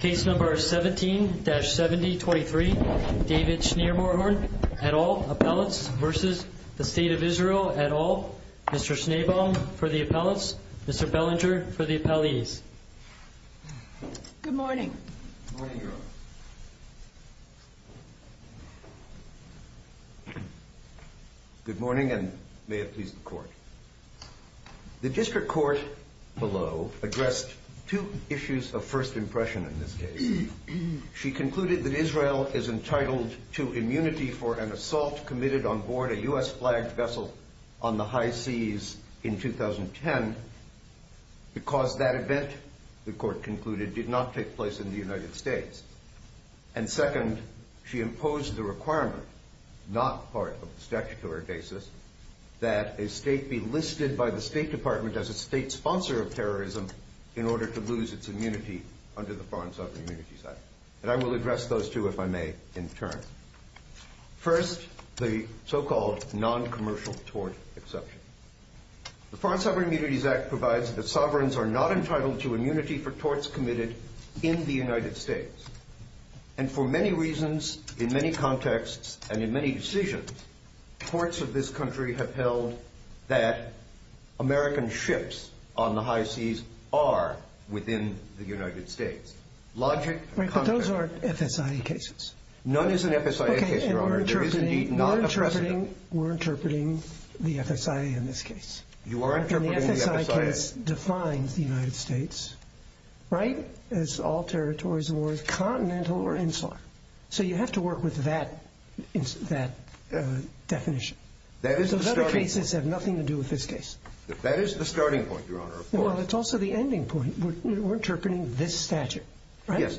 Case number 17-7023 David Schermerhorn et al. Appellants v. State of Israel et al. Mr. Schneebaum for the appellants, Mr. Bellinger for the appellees. Good morning. Good morning, Your Honor. Good morning, and may it please the Court. The district court below addressed two issues of first impression in this case. She concluded that Israel is entitled to immunity for an assault committed on board a U.S.-flagged vessel on the high seas in 2010 because that event, the Court concluded, did not take place in the United States. And second, she imposed the requirement, not part of the statutory basis, that a state be listed by the State Department as a state sponsor of terrorism in order to lose its immunity under the Foreign Sovereign Immunities Act. And I will address those two, if I may, in turn. First, the so-called noncommercial tort exception. The Foreign Sovereign Immunities Act provides that sovereigns are not entitled to immunity for torts committed in the United States. And for many reasons, in many contexts, and in many decisions, courts of this country have held that American ships on the high seas are within the United States. Right, but those aren't FSIA cases. None is an FSIA case, Your Honor. Okay, and we're interpreting the FSIA in this case. You are interpreting the FSIA. And the FSIA case defines the United States, right, as all territories of war, as continental or insular. So you have to work with that definition. That is the starting point. Those other cases have nothing to do with this case. That is the starting point, Your Honor, of course. Well, it's also the ending point. We're interpreting this statute, right? Yes.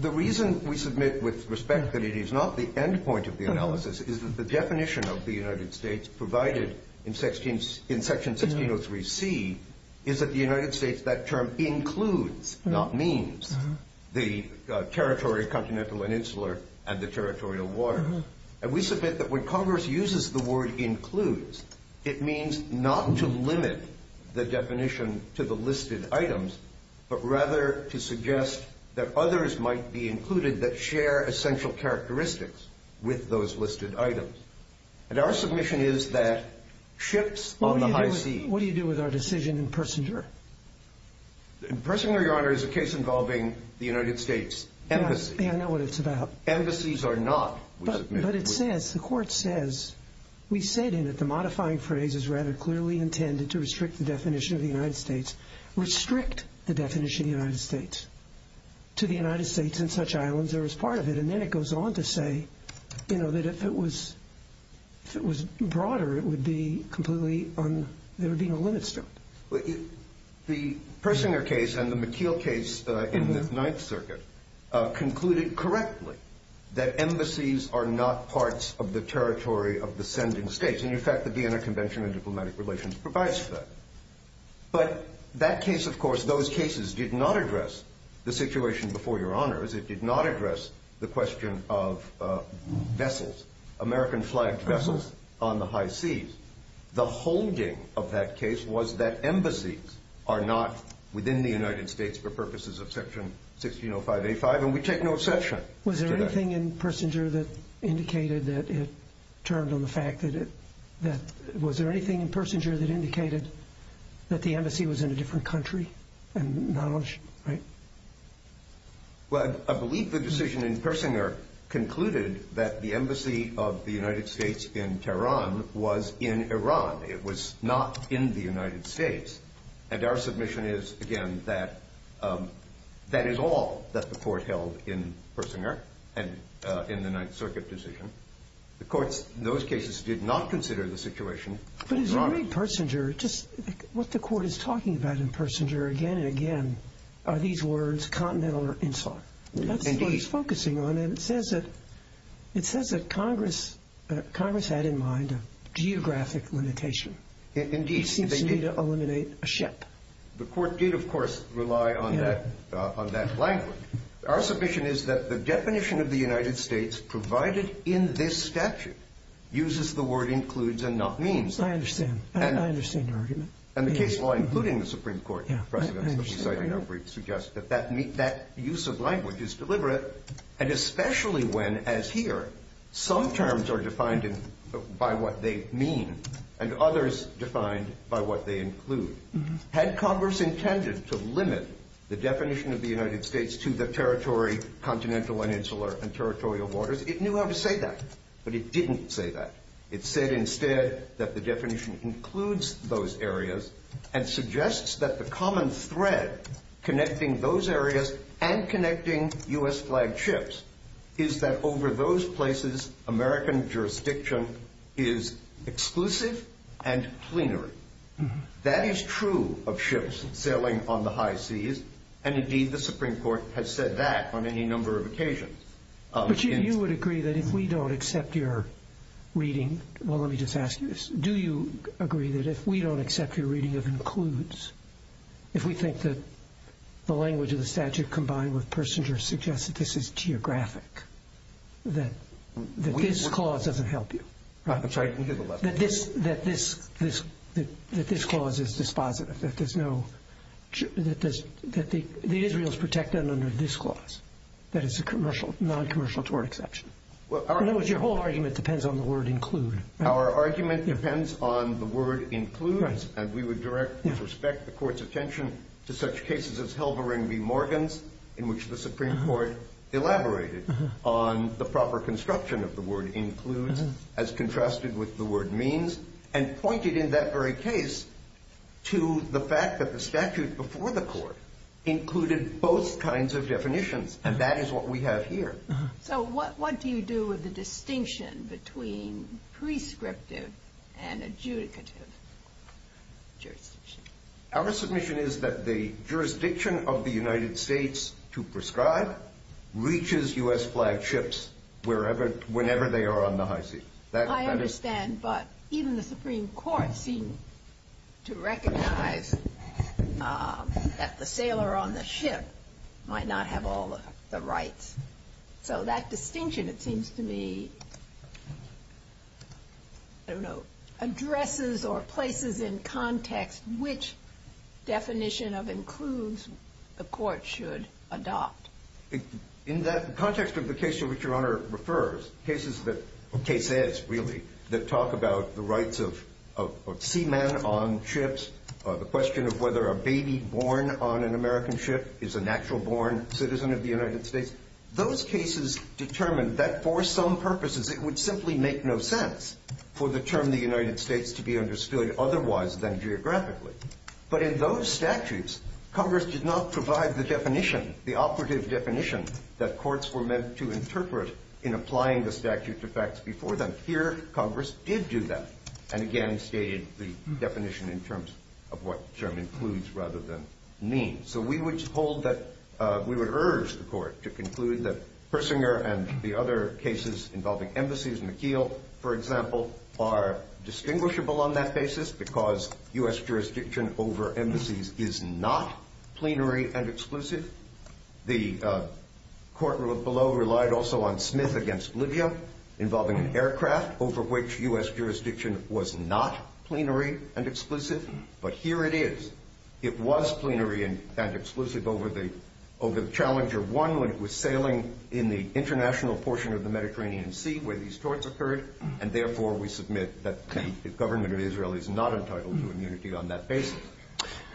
The reason we submit with respect that it is not the end point of the analysis is that the definition of the United States provided in Section 1603C is that the United States, that term, includes, not means, the territory, continental and insular, and the territorial water. And we submit that when Congress uses the word includes, it means not to limit the definition to the listed items, but rather to suggest that others might be included that share essential characteristics with those listed items. And our submission is that ships on the high seas. What do you do with our decision in Persinger? In Persinger, Your Honor, is a case involving the United States Embassy. Yeah, I know what it's about. Embassies are not, we submit. But it says, the Court says, we said in it, the modifying phrase is rather clearly intended to restrict the definition of the United States. Restrict the definition of the United States. To the United States and such islands, there is part of it. And then it goes on to say, you know, that if it was broader, it would be completely, there would be no limits to it. The Persinger case and the McKeel case in the Ninth Circuit concluded correctly that embassies are not parts of the territory of the sending states. And, in fact, the Vienna Convention on Diplomatic Relations provides for that. But that case, of course, those cases did not address the situation before Your Honors. It did not address the question of vessels, American flagged vessels on the high seas. The holding of that case was that embassies are not within the United States for purposes of Section 1605A5, and we take no exception to that. Was there anything in Persinger that indicated that it turned on the fact that it, that, was there anything in Persinger that indicated that the embassy was in a different country? And not on, right? Well, I believe the decision in Persinger concluded that the embassy of the United States in Tehran was in Iran. It was not in the United States. And our submission is, again, that that is all that the court held in Persinger and in the Ninth Circuit decision. The courts in those cases did not consider the situation. But is it really Persinger, just what the court is talking about in Persinger again and again, are these words continental or insular? Indeed. That's what it's focusing on, and it says that Congress had in mind a geographic limitation. Indeed. It seems to me to eliminate a ship. The court did, of course, rely on that language. Our submission is that the definition of the United States provided in this statute uses the word includes and not means. I understand. I understand your argument. And the case law, including the Supreme Court precedents that we cited in our brief, suggests that that use of language is deliberate, and especially when, as here, some terms are defined by what they mean and others defined by what they include. Had Congress intended to limit the definition of the United States to the territory continental and insular and territorial waters, it knew how to say that. But it didn't say that. It said instead that the definition includes those areas and suggests that the common thread connecting those areas and connecting U.S.-flagged ships is that over those places, American jurisdiction is exclusive and plenary. That is true of ships sailing on the high seas, and, indeed, the Supreme Court has said that on any number of occasions. But you would agree that if we don't accept your reading – well, let me just ask you this. Do you agree that if we don't accept your reading of includes, if we think that the language of the statute combined with Persinger suggests that this is geographic, that this clause doesn't help you? I'm sorry. That this clause is dispositive, that there's no – that the Israels protect them under this clause, that it's a noncommercial tort exception. In other words, your whole argument depends on the word include. Our argument depends on the word include. And we would direct and respect the Court's attention to such cases as Helvarin v. Morgans, in which the Supreme Court elaborated on the proper construction of the word includes as contrasted with the word means, and pointed in that very case to the fact that the statute before the Court included both kinds of definitions. And that is what we have here. So what do you do with the distinction between prescriptive and adjudicative jurisdictions? Our submission is that the jurisdiction of the United States to prescribe reaches U.S.-flagged ships wherever – whenever they are on the high seas. I understand. But even the Supreme Court seemed to recognize that the sailor on the ship might not have all the rights. So that distinction, it seems to me, I don't know, addresses or places in context which definition of includes the Court should adopt. In that context of the case in which Your Honor refers, cases that – cases, really, that talk about the rights of seamen on ships, the question of whether a baby born on an American ship is a natural-born citizen of the United States, those cases determine that for some purposes it would simply make no sense for the term the United States to be understood otherwise than geographically. But in those statutes, Congress did not provide the definition, the operative definition that courts were meant to interpret in applying the statute to facts before them. Here, Congress did do that and, again, stated the definition in terms of what term includes rather than means. So we would hold that – we would urge the Court to conclude that Persinger and the other cases involving embassies, McKeel, for example, are distinguishable on that basis because U.S. jurisdiction over embassies is not plenary and exclusive. The Court below relied also on Smith v. Libya involving an aircraft over which U.S. jurisdiction was not plenary and exclusive, but here it is. It was plenary and exclusive over the Challenger 1 when it was sailing in the international portion of the Mediterranean Sea where these torts occurred, and, therefore, we submit that the government of Israel is not entitled to immunity on that basis.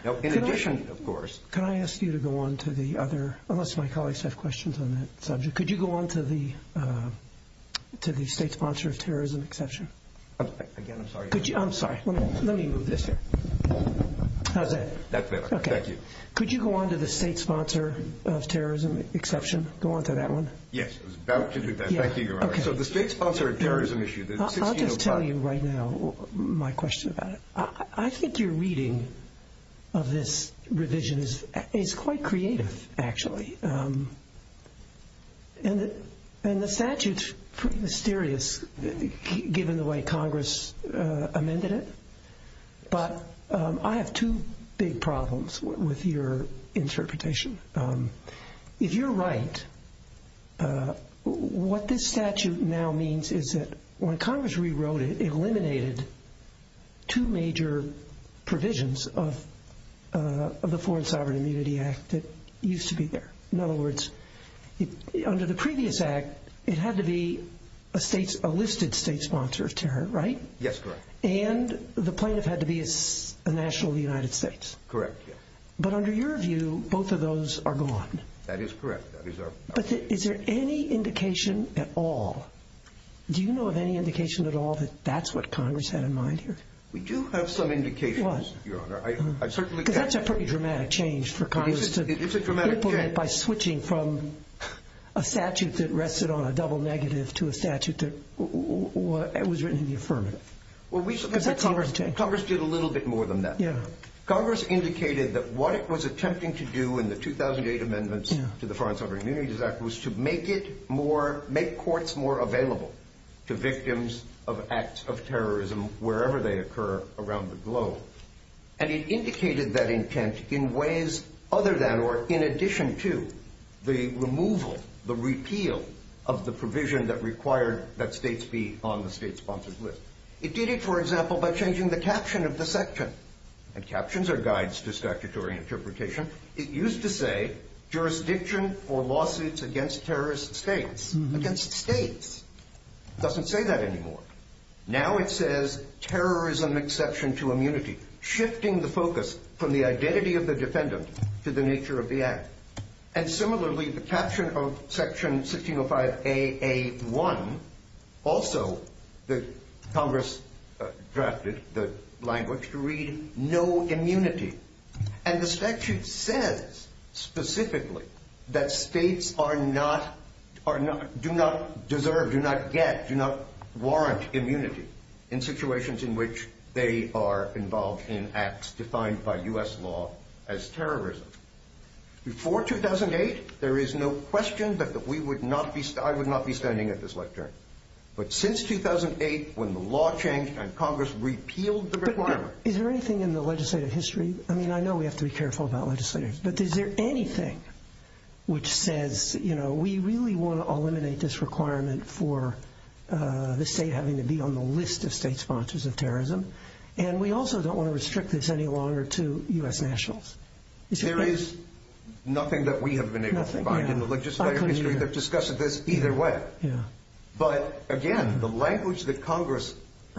Now, in addition, of course – Can I ask you to go on to the other – unless my colleagues have questions on that subject – could you go on to the state sponsor of terrorism exception? Again, I'm sorry. I'm sorry. Let me move this here. How's that? That's better. Thank you. Could you go on to the state sponsor of terrorism exception? Go on to that one. Yes, I was about to do that. Thank you, Your Honor. Okay. So the state sponsor of terrorism issue – I'll just tell you right now my question about it. I think your reading of this revision is quite creative, actually, and the statute's pretty mysterious given the way Congress amended it, but I have two big problems with your interpretation. If you're right, what this statute now means is that when Congress rewrote it, it eliminated two major provisions of the Foreign Sovereign Immunity Act that used to be there. In other words, under the previous act, it had to be a listed state sponsor of terror, right? Yes, correct. And the plaintiff had to be a national of the United States. Correct, yes. But under your view, both of those are gone. That is correct. But is there any indication at all – do you know of any indication at all that that's what Congress had in mind here? We do have some indications, Your Honor. Because that's a pretty dramatic change for Congress to implement by switching from a statute that rested on a double negative to a statute that was written in the affirmative. Congress did a little bit more than that. Yeah. Congress indicated that what it was attempting to do in the 2008 amendments to the Foreign Sovereign Immunity Act was to make it more – make courts more available to victims of acts of terrorism wherever they occur around the globe. And it indicated that intent in ways other than or in addition to the removal, the repeal of the provision that required that states be on the state-sponsored list. It did it, for example, by changing the caption of the section. And captions are guides to statutory interpretation. It used to say, jurisdiction for lawsuits against terrorist states. Against states. It doesn't say that anymore. Now it says, terrorism exception to immunity, shifting the focus from the identity of the defendant to the nature of the act. And similarly, the caption of Section 1605AA1, also Congress drafted the language to read, no immunity. And the statute says specifically that states are not – do not deserve, do not get, do not warrant immunity in situations in which they are involved in acts defined by U.S. law as terrorism. Before 2008, there is no question that we would not be – I would not be standing at this lectern. But since 2008, when the law changed and Congress repealed the requirement – Is there anything in the legislative history – I mean, I know we have to be careful about legislators. But is there anything which says, you know, we really want to eliminate this requirement for the state having to be on the list of state sponsors of terrorism? And we also don't want to restrict this any longer to U.S. nationals. There is nothing that we have been able to find in the legislative history that discusses this either way. But again, the language that Congress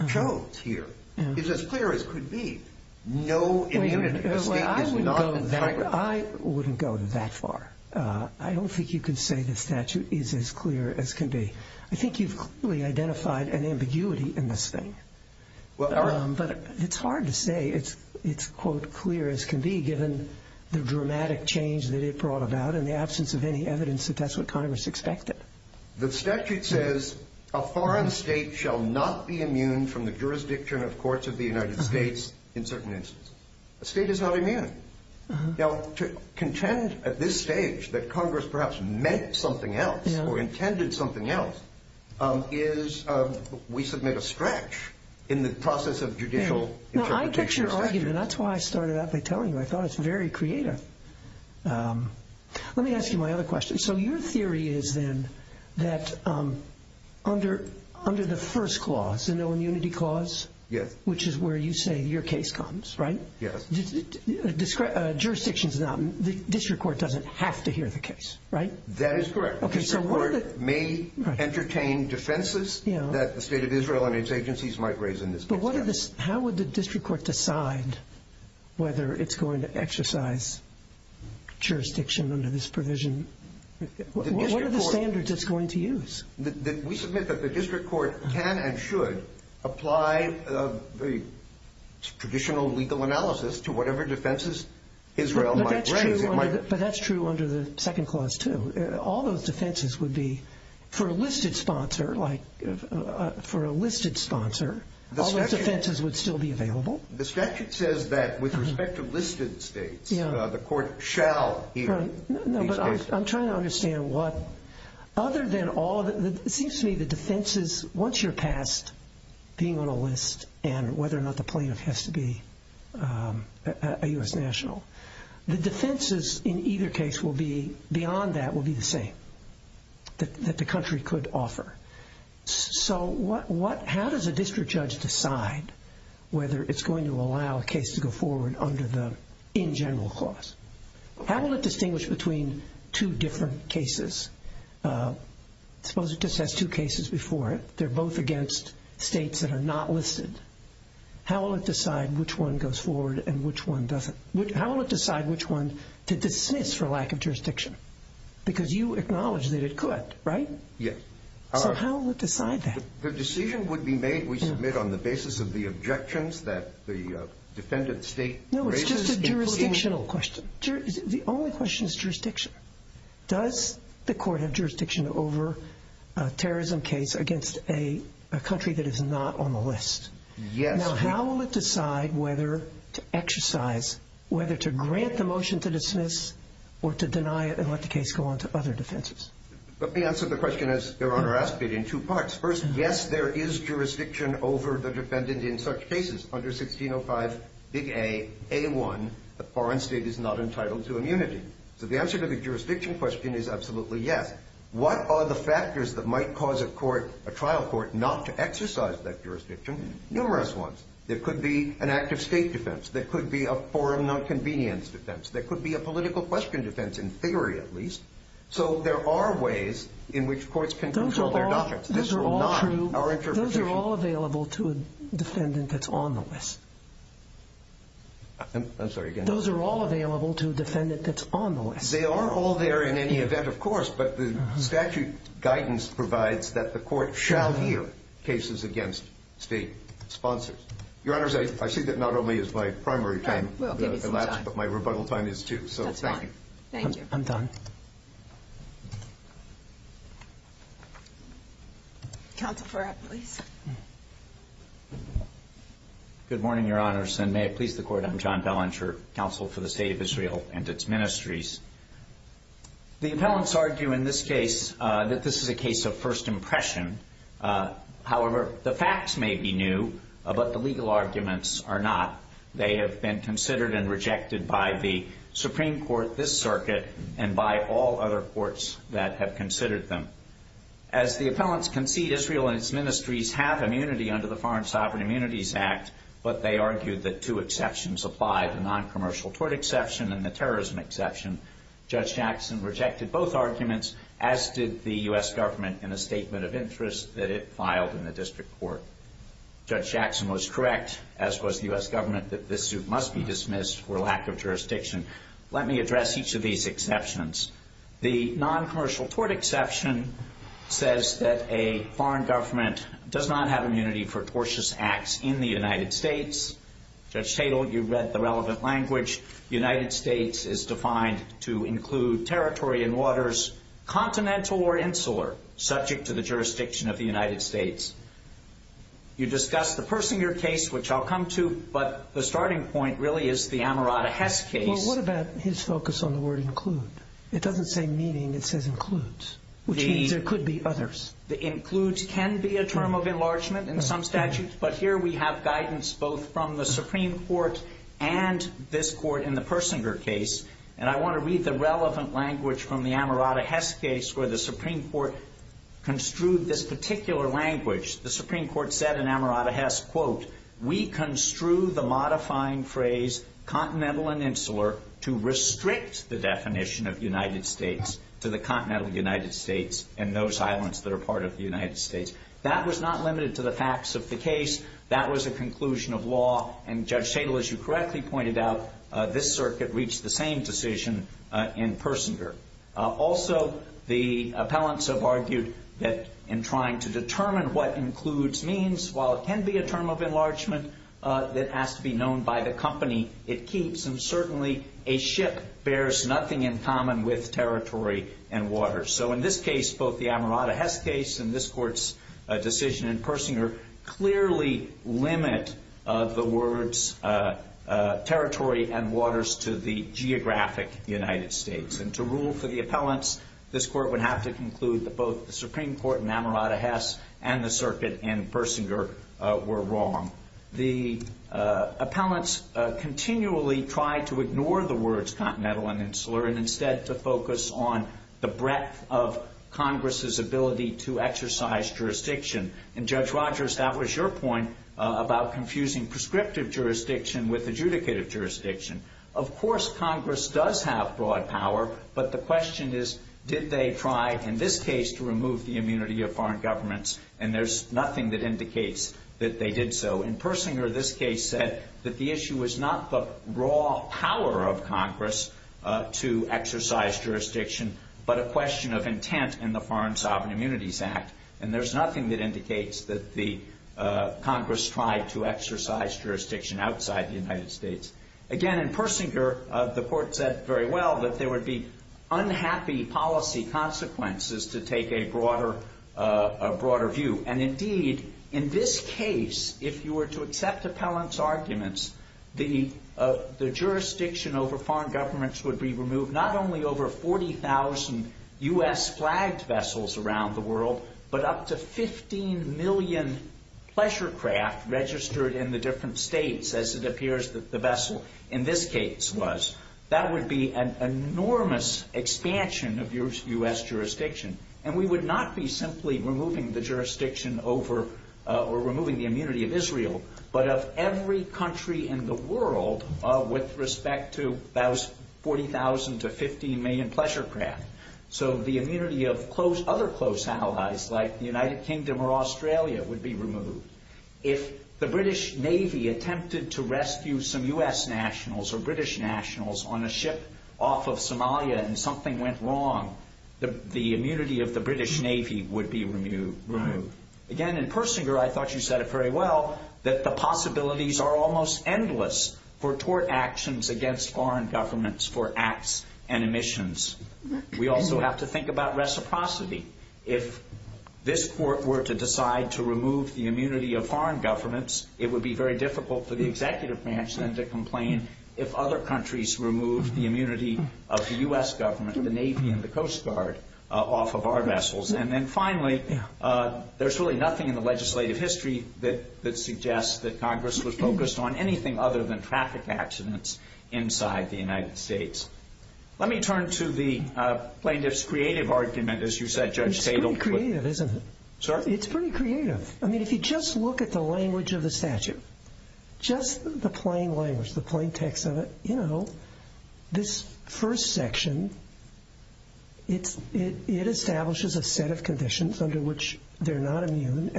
chose here is as clear as could be. No immunity. I wouldn't go that far. I don't think you can say the statute is as clear as can be. I think you've clearly identified an ambiguity in this thing. But it's hard to say it's, quote, clear as can be, given the dramatic change that it brought about and the absence of any evidence that that's what Congress expected. The statute says a foreign state shall not be immune from the jurisdiction of courts of the United States in certain instances. A state is not immune. Now, to contend at this stage that Congress perhaps meant something else or intended something else is – we submit a stretch in the process of judicial interpretation. Now, I get your argument. That's why I started out by telling you. I thought it's very creative. Let me ask you my other question. So your theory is then that under the first clause, the no immunity clause, which is where you say your case comes, right? Yes. Jurisdiction is not – the district court doesn't have to hear the case, right? That is correct. The district court may entertain defenses that the state of Israel and its agencies might raise in this case. How would the district court decide whether it's going to exercise jurisdiction under this provision? What are the standards it's going to use? We submit that the district court can and should apply the traditional legal analysis to whatever defenses Israel might raise. But that's true under the second clause, too. All those defenses would be for a listed sponsor, like for a listed sponsor, all those defenses would still be available. The statute says that with respect to listed states, the court shall hear each case. No, but I'm trying to understand what – other than all – it seems to me the defenses, once you're passed, being on a list and whether or not the plaintiff has to be a U.S. national, the defenses in either case will be – beyond that will be the same that the country could offer. So what – how does a district judge decide whether it's going to allow a case to go forward under the in general clause? How will it distinguish between two different cases? Suppose it just has two cases before it. They're both against states that are not listed. How will it decide which one goes forward and which one doesn't? How will it decide which one to dismiss for lack of jurisdiction? Because you acknowledge that it could, right? Yes. So how will it decide that? The decision would be made, we submit, on the basis of the objections that the defendant state raises. No, it's just a jurisdictional question. The only question is jurisdiction. Does the court have jurisdiction over a terrorism case against a country that is not on the list? Yes. Now, how will it decide whether to exercise – whether to grant the motion to dismiss or to deny it and let the case go on to other defenses? Let me answer the question as Your Honor asked it in two parts. First, yes, there is jurisdiction over the defendant in such cases. Under 1605 big A, A1, the foreign state is not entitled to immunity. So the answer to the jurisdiction question is absolutely yes. What are the factors that might cause a trial court not to exercise that jurisdiction? Numerous ones. There could be an active state defense. There could be a foreign nonconvenience defense. There could be a political question defense, in theory at least. So there are ways in which courts can control their doctrines. Those are all true. Those are all available to a defendant that's on the list. I'm sorry, again. Those are all available to a defendant that's on the list. They are all there in any event, of course. But the statute guidance provides that the court shall hear cases against state sponsors. Your Honors, I see that not only is my primary time elapsed, but my rebuttal time is, too. That's fine. Thank you. I'm done. Counsel Farratt, please. Good morning, Your Honors, and may it please the Court. I'm John Belanger, Counsel for the State of Israel and its Ministries. The appellants argue in this case that this is a case of first impression. However, the facts may be new, but the legal arguments are not. They have been considered and rejected by the Supreme Court, this circuit, and by all other courts that have considered them. As the appellants concede, Israel and its ministries have immunity under the Foreign Sovereign Immunities Act, but they argue that two exceptions apply, the noncommercial tort exception and the terrorism exception. Judge Jackson rejected both arguments, as did the U.S. government, in a statement of interest that it filed in the district court. Judge Jackson was correct, as was the U.S. government, that this suit must be dismissed for lack of jurisdiction. Let me address each of these exceptions. The noncommercial tort exception says that a foreign government does not have immunity for tortious acts in the United States. Judge Tatel, you read the relevant language. The United States is defined to include territory and waters, continental or insular, subject to the jurisdiction of the United States. You discussed the Persinger case, which I'll come to, but the starting point really is the Amirata Hess case. Well, what about his focus on the word include? It doesn't say meaning. It says includes, which means there could be others. The includes can be a term of enlargement in some statutes, but here we have guidance both from the Supreme Court and this Court in the Persinger case, and I want to read the relevant language from the Amirata Hess case where the Supreme Court construed this particular language. The Supreme Court said in Amirata Hess, quote, we construe the modifying phrase continental and insular to restrict the definition of United States to the continental United States and those islands that are part of the United States. That was not limited to the facts of the case. That was a conclusion of law, and Judge Tatel, as you correctly pointed out, this circuit reached the same decision in Persinger. Also, the appellants have argued that in trying to determine what includes means, while it can be a term of enlargement that has to be known by the company it keeps, and certainly a ship bears nothing in common with territory and water. So in this case, both the Amirata Hess case and this Court's decision in Persinger clearly limit the words territory and waters to the geographic United States, and to rule for the appellants, this Court would have to conclude that both the Supreme Court in Amirata Hess and the circuit in Persinger were wrong. The appellants continually tried to ignore the words continental and insular and instead to focus on the breadth of Congress's ability to exercise jurisdiction, and Judge Rogers, that was your point about confusing prescriptive jurisdiction with adjudicative jurisdiction. Of course, Congress does have broad power, but the question is, did they try in this case to remove the immunity of foreign governments, and there's nothing that indicates that they did so. In Persinger, this case said that the issue was not the raw power of Congress to exercise jurisdiction, but a question of intent in the Foreign Sovereign Immunities Act, and there's nothing that indicates that Congress tried to exercise jurisdiction outside the United States. Again, in Persinger, the Court said very well that there would be unhappy policy consequences to take a broader view, and indeed, in this case, if you were to accept appellants' arguments, the jurisdiction over foreign governments would be removed not only over 40,000 U.S.-flagged vessels around the world, but up to 15 million pleasure craft registered in the different states, as it appears that the vessel in this case was. That would be an enormous expansion of U.S. jurisdiction, and we would not be simply removing the jurisdiction over or removing the immunity of Israel, but of every country in the world with respect to those 40,000 to 15 million pleasure craft. So the immunity of other close allies like the United Kingdom or Australia would be removed. If the British Navy attempted to rescue some U.S. nationals or British nationals on a ship off of Somalia and something went wrong, the immunity of the British Navy would be removed. Again, in Persinger, I thought you said it very well that the possibilities are almost endless for tort actions against foreign governments for acts and emissions. We also have to think about reciprocity. If this court were to decide to remove the immunity of foreign governments, it would be very difficult for the executive branch then to complain if other countries removed the immunity of the U.S. government, the Navy, and the Coast Guard off of our vessels. And then finally, there's really nothing in the legislative history that suggests that Congress was focused on anything other than traffic accidents inside the United States. Let me turn to the plaintiff's creative argument. As you said, Judge Tatel. It's pretty creative, isn't it? Sorry? It's pretty creative. I mean, if you just look at the language of the statute, just the plain language, the plain text of it, you know, this first section, it establishes a set of conditions under which they're not immune,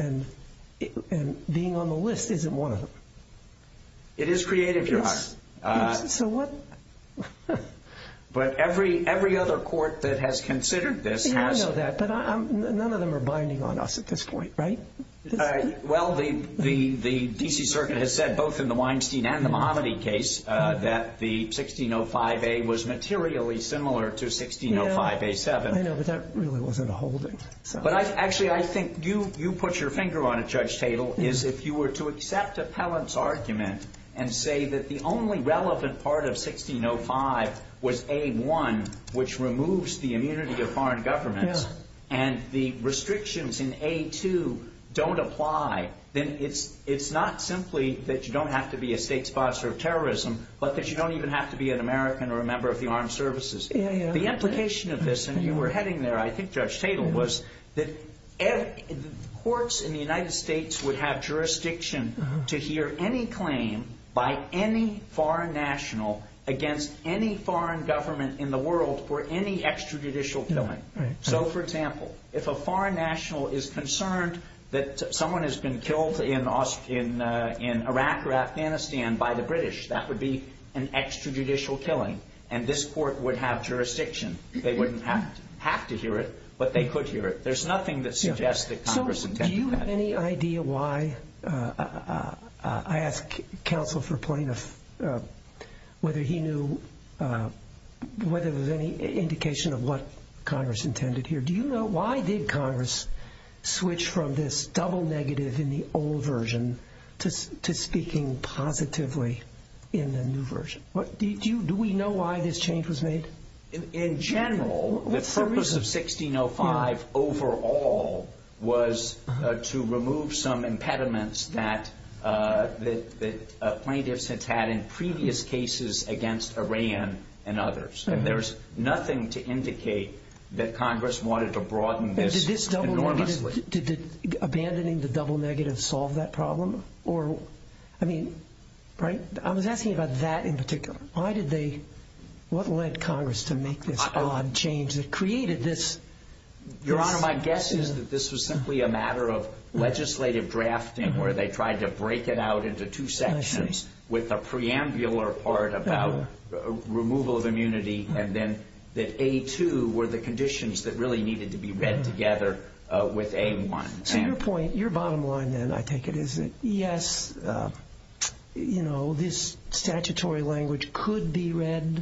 and being on the list isn't one of them. It is creative, Your Honor. So what? But every other court that has considered this has. Yeah, I know that. But none of them are binding on us at this point, right? Well, the D.C. Circuit has said both in the Weinstein and the Mahomedy case that the 1605A was materially similar to 1605A7. I know, but that really wasn't a holding. But actually, I think you put your finger on it, Judge Tatel, is if you were to accept appellant's argument and say that the only relevant part of 1605 was A1, which removes the immunity of foreign governments, and the restrictions in A2 don't apply, then it's not simply that you don't have to be a state sponsor of terrorism, but that you don't even have to be an American or a member of the armed services. The implication of this, and you were heading there, I think, Judge Tatel, was that courts in the United States would have jurisdiction to hear any claim by any foreign national against any foreign government in the world for any extrajudicial killing. So, for example, if a foreign national is concerned that someone has been killed in Iraq or Afghanistan by the British, that would be an extrajudicial killing, and this court would have jurisdiction. They wouldn't have to hear it, but they could hear it. There's nothing that suggests that Congress intended that. So do you have any idea why? I asked counsel for a point of whether he knew whether there was any indication of what Congress intended here. Do you know why did Congress switch from this double negative in the old version to speaking positively in the new version? Do we know why this change was made? In general, the purpose of 1605 overall was to remove some impediments that plaintiffs had had in previous cases against Iran and others, and there's nothing to indicate that Congress wanted to broaden this enormously. Did abandoning the double negative solve that problem? I was asking about that in particular. What led Congress to make this odd change that created this? Your Honor, my guess is that this was simply a matter of legislative drafting where they tried to break it out into two sections with a preambular part about removal of immunity and then that A2 were the conditions that really needed to be read together with A1. So your point, your bottom line then, I think it is that, yes, you know, this statutory language could be read,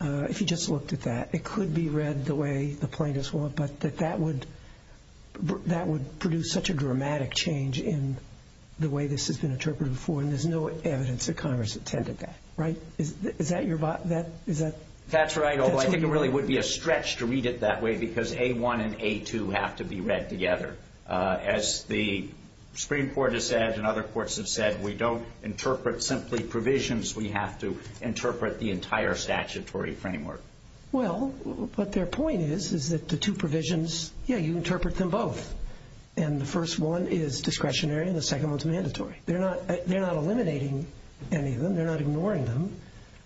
if you just looked at that, it could be read the way the plaintiffs want, but that that would produce such a dramatic change in the way this has been interpreted before, and there's no evidence that Congress intended that, right? Is that your bottom line? That's right, although I think it really would be a stretch to read it that way because A1 and A2 have to be read together. As the Supreme Court has said and other courts have said, we don't interpret simply provisions. We have to interpret the entire statutory framework. Well, but their point is that the two provisions, yeah, you interpret them both, They're not eliminating any of them. They're not ignoring them.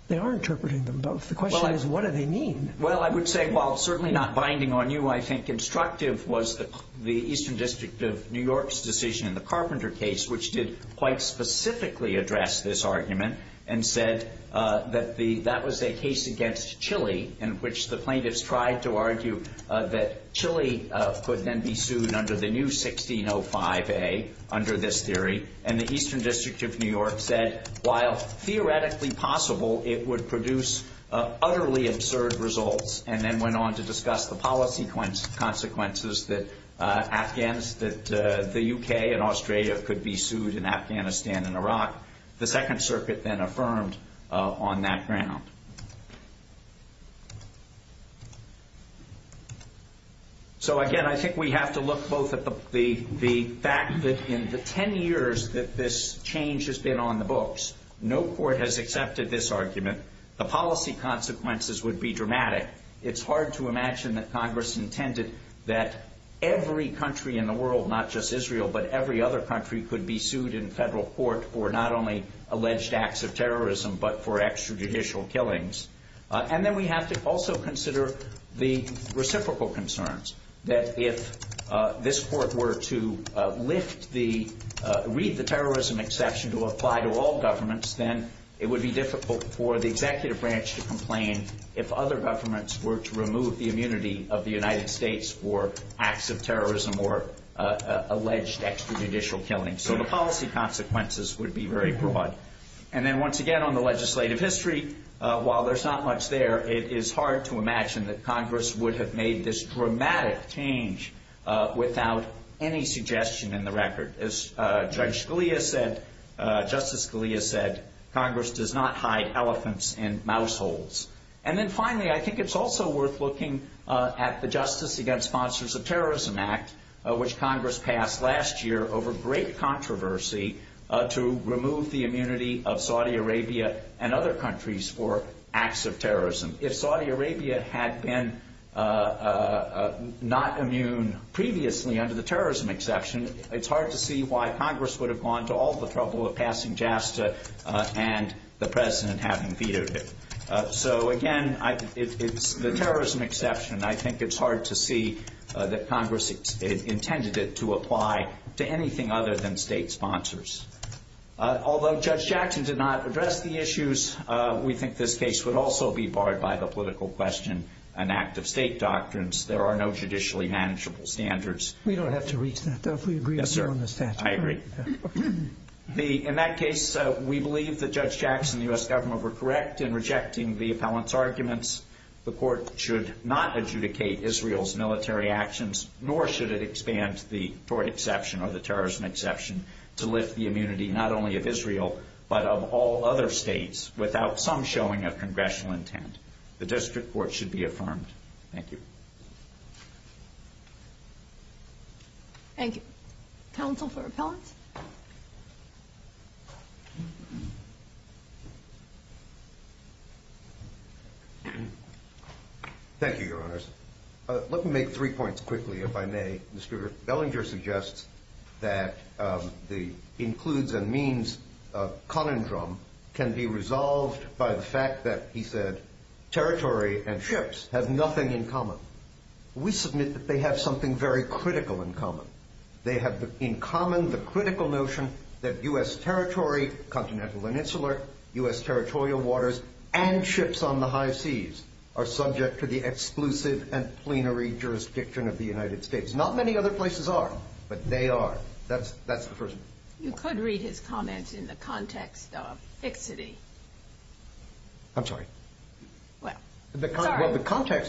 They are interpreting them both. The question is what do they mean? Well, I would say while certainly not binding on you, I think instructive was the Eastern District of New York's decision in the Carpenter case, which did quite specifically address this argument and said that that was a case against Chile in which the plaintiffs tried to argue that Chile could then be sued under the new 1605A, under this theory, and the Eastern District of New York said while theoretically possible, it would produce utterly absurd results and then went on to discuss the policy consequences that Afghans, that the U.K. and Australia could be sued in Afghanistan and Iraq. The Second Circuit then affirmed on that ground. So, again, I think we have to look both at the fact that in the 10 years that this change has been on the books, no court has accepted this argument. The policy consequences would be dramatic. It's hard to imagine that Congress intended that every country in the world, not just Israel, but every other country could be sued in federal court for not only alleged acts of terrorism, but for extrajudicial killings. And then we have to also consider the reciprocal concerns that if this court were to lift the, read the terrorism exception to apply to all governments, then it would be difficult for the executive branch to complain if other governments were to remove the immunity of the United States for acts of terrorism or alleged extrajudicial killings. So the policy consequences would be very broad. And then once again on the legislative history, while there's not much there, it is hard to imagine that Congress would have made this dramatic change without any suggestion in the record. As Judge Scalia said, Justice Scalia said, Congress does not hide elephants in mouse holes. And then finally, I think it's also worth looking at the Justice Against Sponsors of Terrorism Act, which Congress passed last year over great controversy to remove the immunity of Saudi Arabia and other countries for acts of terrorism. If Saudi Arabia had been not immune previously under the terrorism exception, it's hard to see why Congress would have gone to all the trouble of passing JASTA and the president having vetoed it. So again, it's the terrorism exception. I think it's hard to see that Congress intended it to apply to anything other than state sponsors. Although Judge Jackson did not address the issues, we think this case would also be barred by the political question and act of state doctrines. There are no judicially manageable standards. We don't have to reach that, though, if we agree on the statute. I agree. In that case, we believe that Judge Jackson and the U.S. government were correct in rejecting the appellant's arguments. The court should not adjudicate Israel's military actions, nor should it expand the exception or the terrorism exception to lift the immunity not only of Israel, but of all other states without some showing of congressional intent. The district court should be affirmed. Thank you. Thank you. Counsel for appellants? Thank you, Your Honors. Let me make three points quickly, if I may. Mr. Bellinger suggests that the includes and means conundrum can be resolved by the fact that, he said, territory and ships have nothing in common. We submit that they have something very critical in common. They have in common the critical notion that U.S. territory, continental and insular, U.S. territorial waters, and ships on the high seas are subject to the exclusive and plenary jurisdiction of the United States. Not many other places are, but they are. That's the first point. You could read his comments in the context of fixity. I'm sorry. Well, sorry.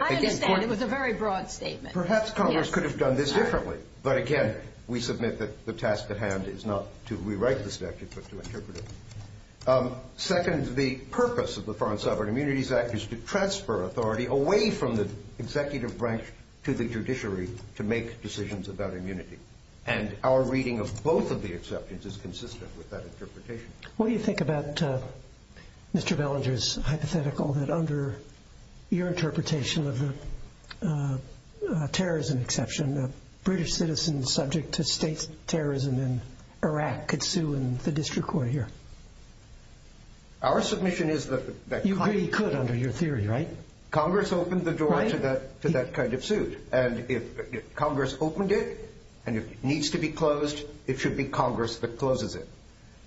I understand. It was a very broad statement. Perhaps Congress could have done this differently. But, again, we submit that the task at hand is not to rewrite the statute, but to interpret it. Second, the purpose of the Foreign Sovereign Immunities Act is to transfer authority away from the executive branch to the judiciary to make decisions about immunity. And our reading of both of the exceptions is consistent with that interpretation. What do you think about Mr. Bellinger's hypothetical that under your interpretation of the terrorism exception, a British citizen subject to state terrorism in Iraq could sue in the district court here? Our submission is that Congress— You agree he could under your theory, right? Congress opened the door to that kind of suit. And if Congress opened it and it needs to be closed, it should be Congress that closes it.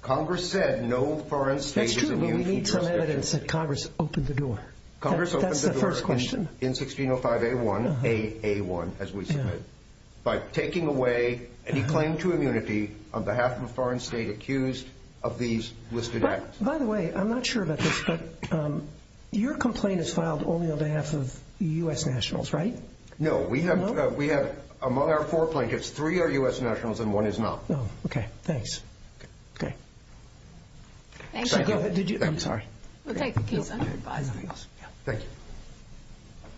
Congress said no foreign state is immune from jurisdiction. That's true, but we need some evidence that Congress opened the door. Congress opened the door. That's the first question. In 1605 A.1, A.A.1, as we submitted. By taking away any claim to immunity on behalf of a foreign state accused of these listed acts. By the way, I'm not sure about this, but your complaint is filed only on behalf of U.S. nationals, right? No. We have among our four plaintiffs, three are U.S. nationals and one is not. Okay, thanks. Okay. Thank you. I'm sorry. We'll take a case under advisement. Thank you.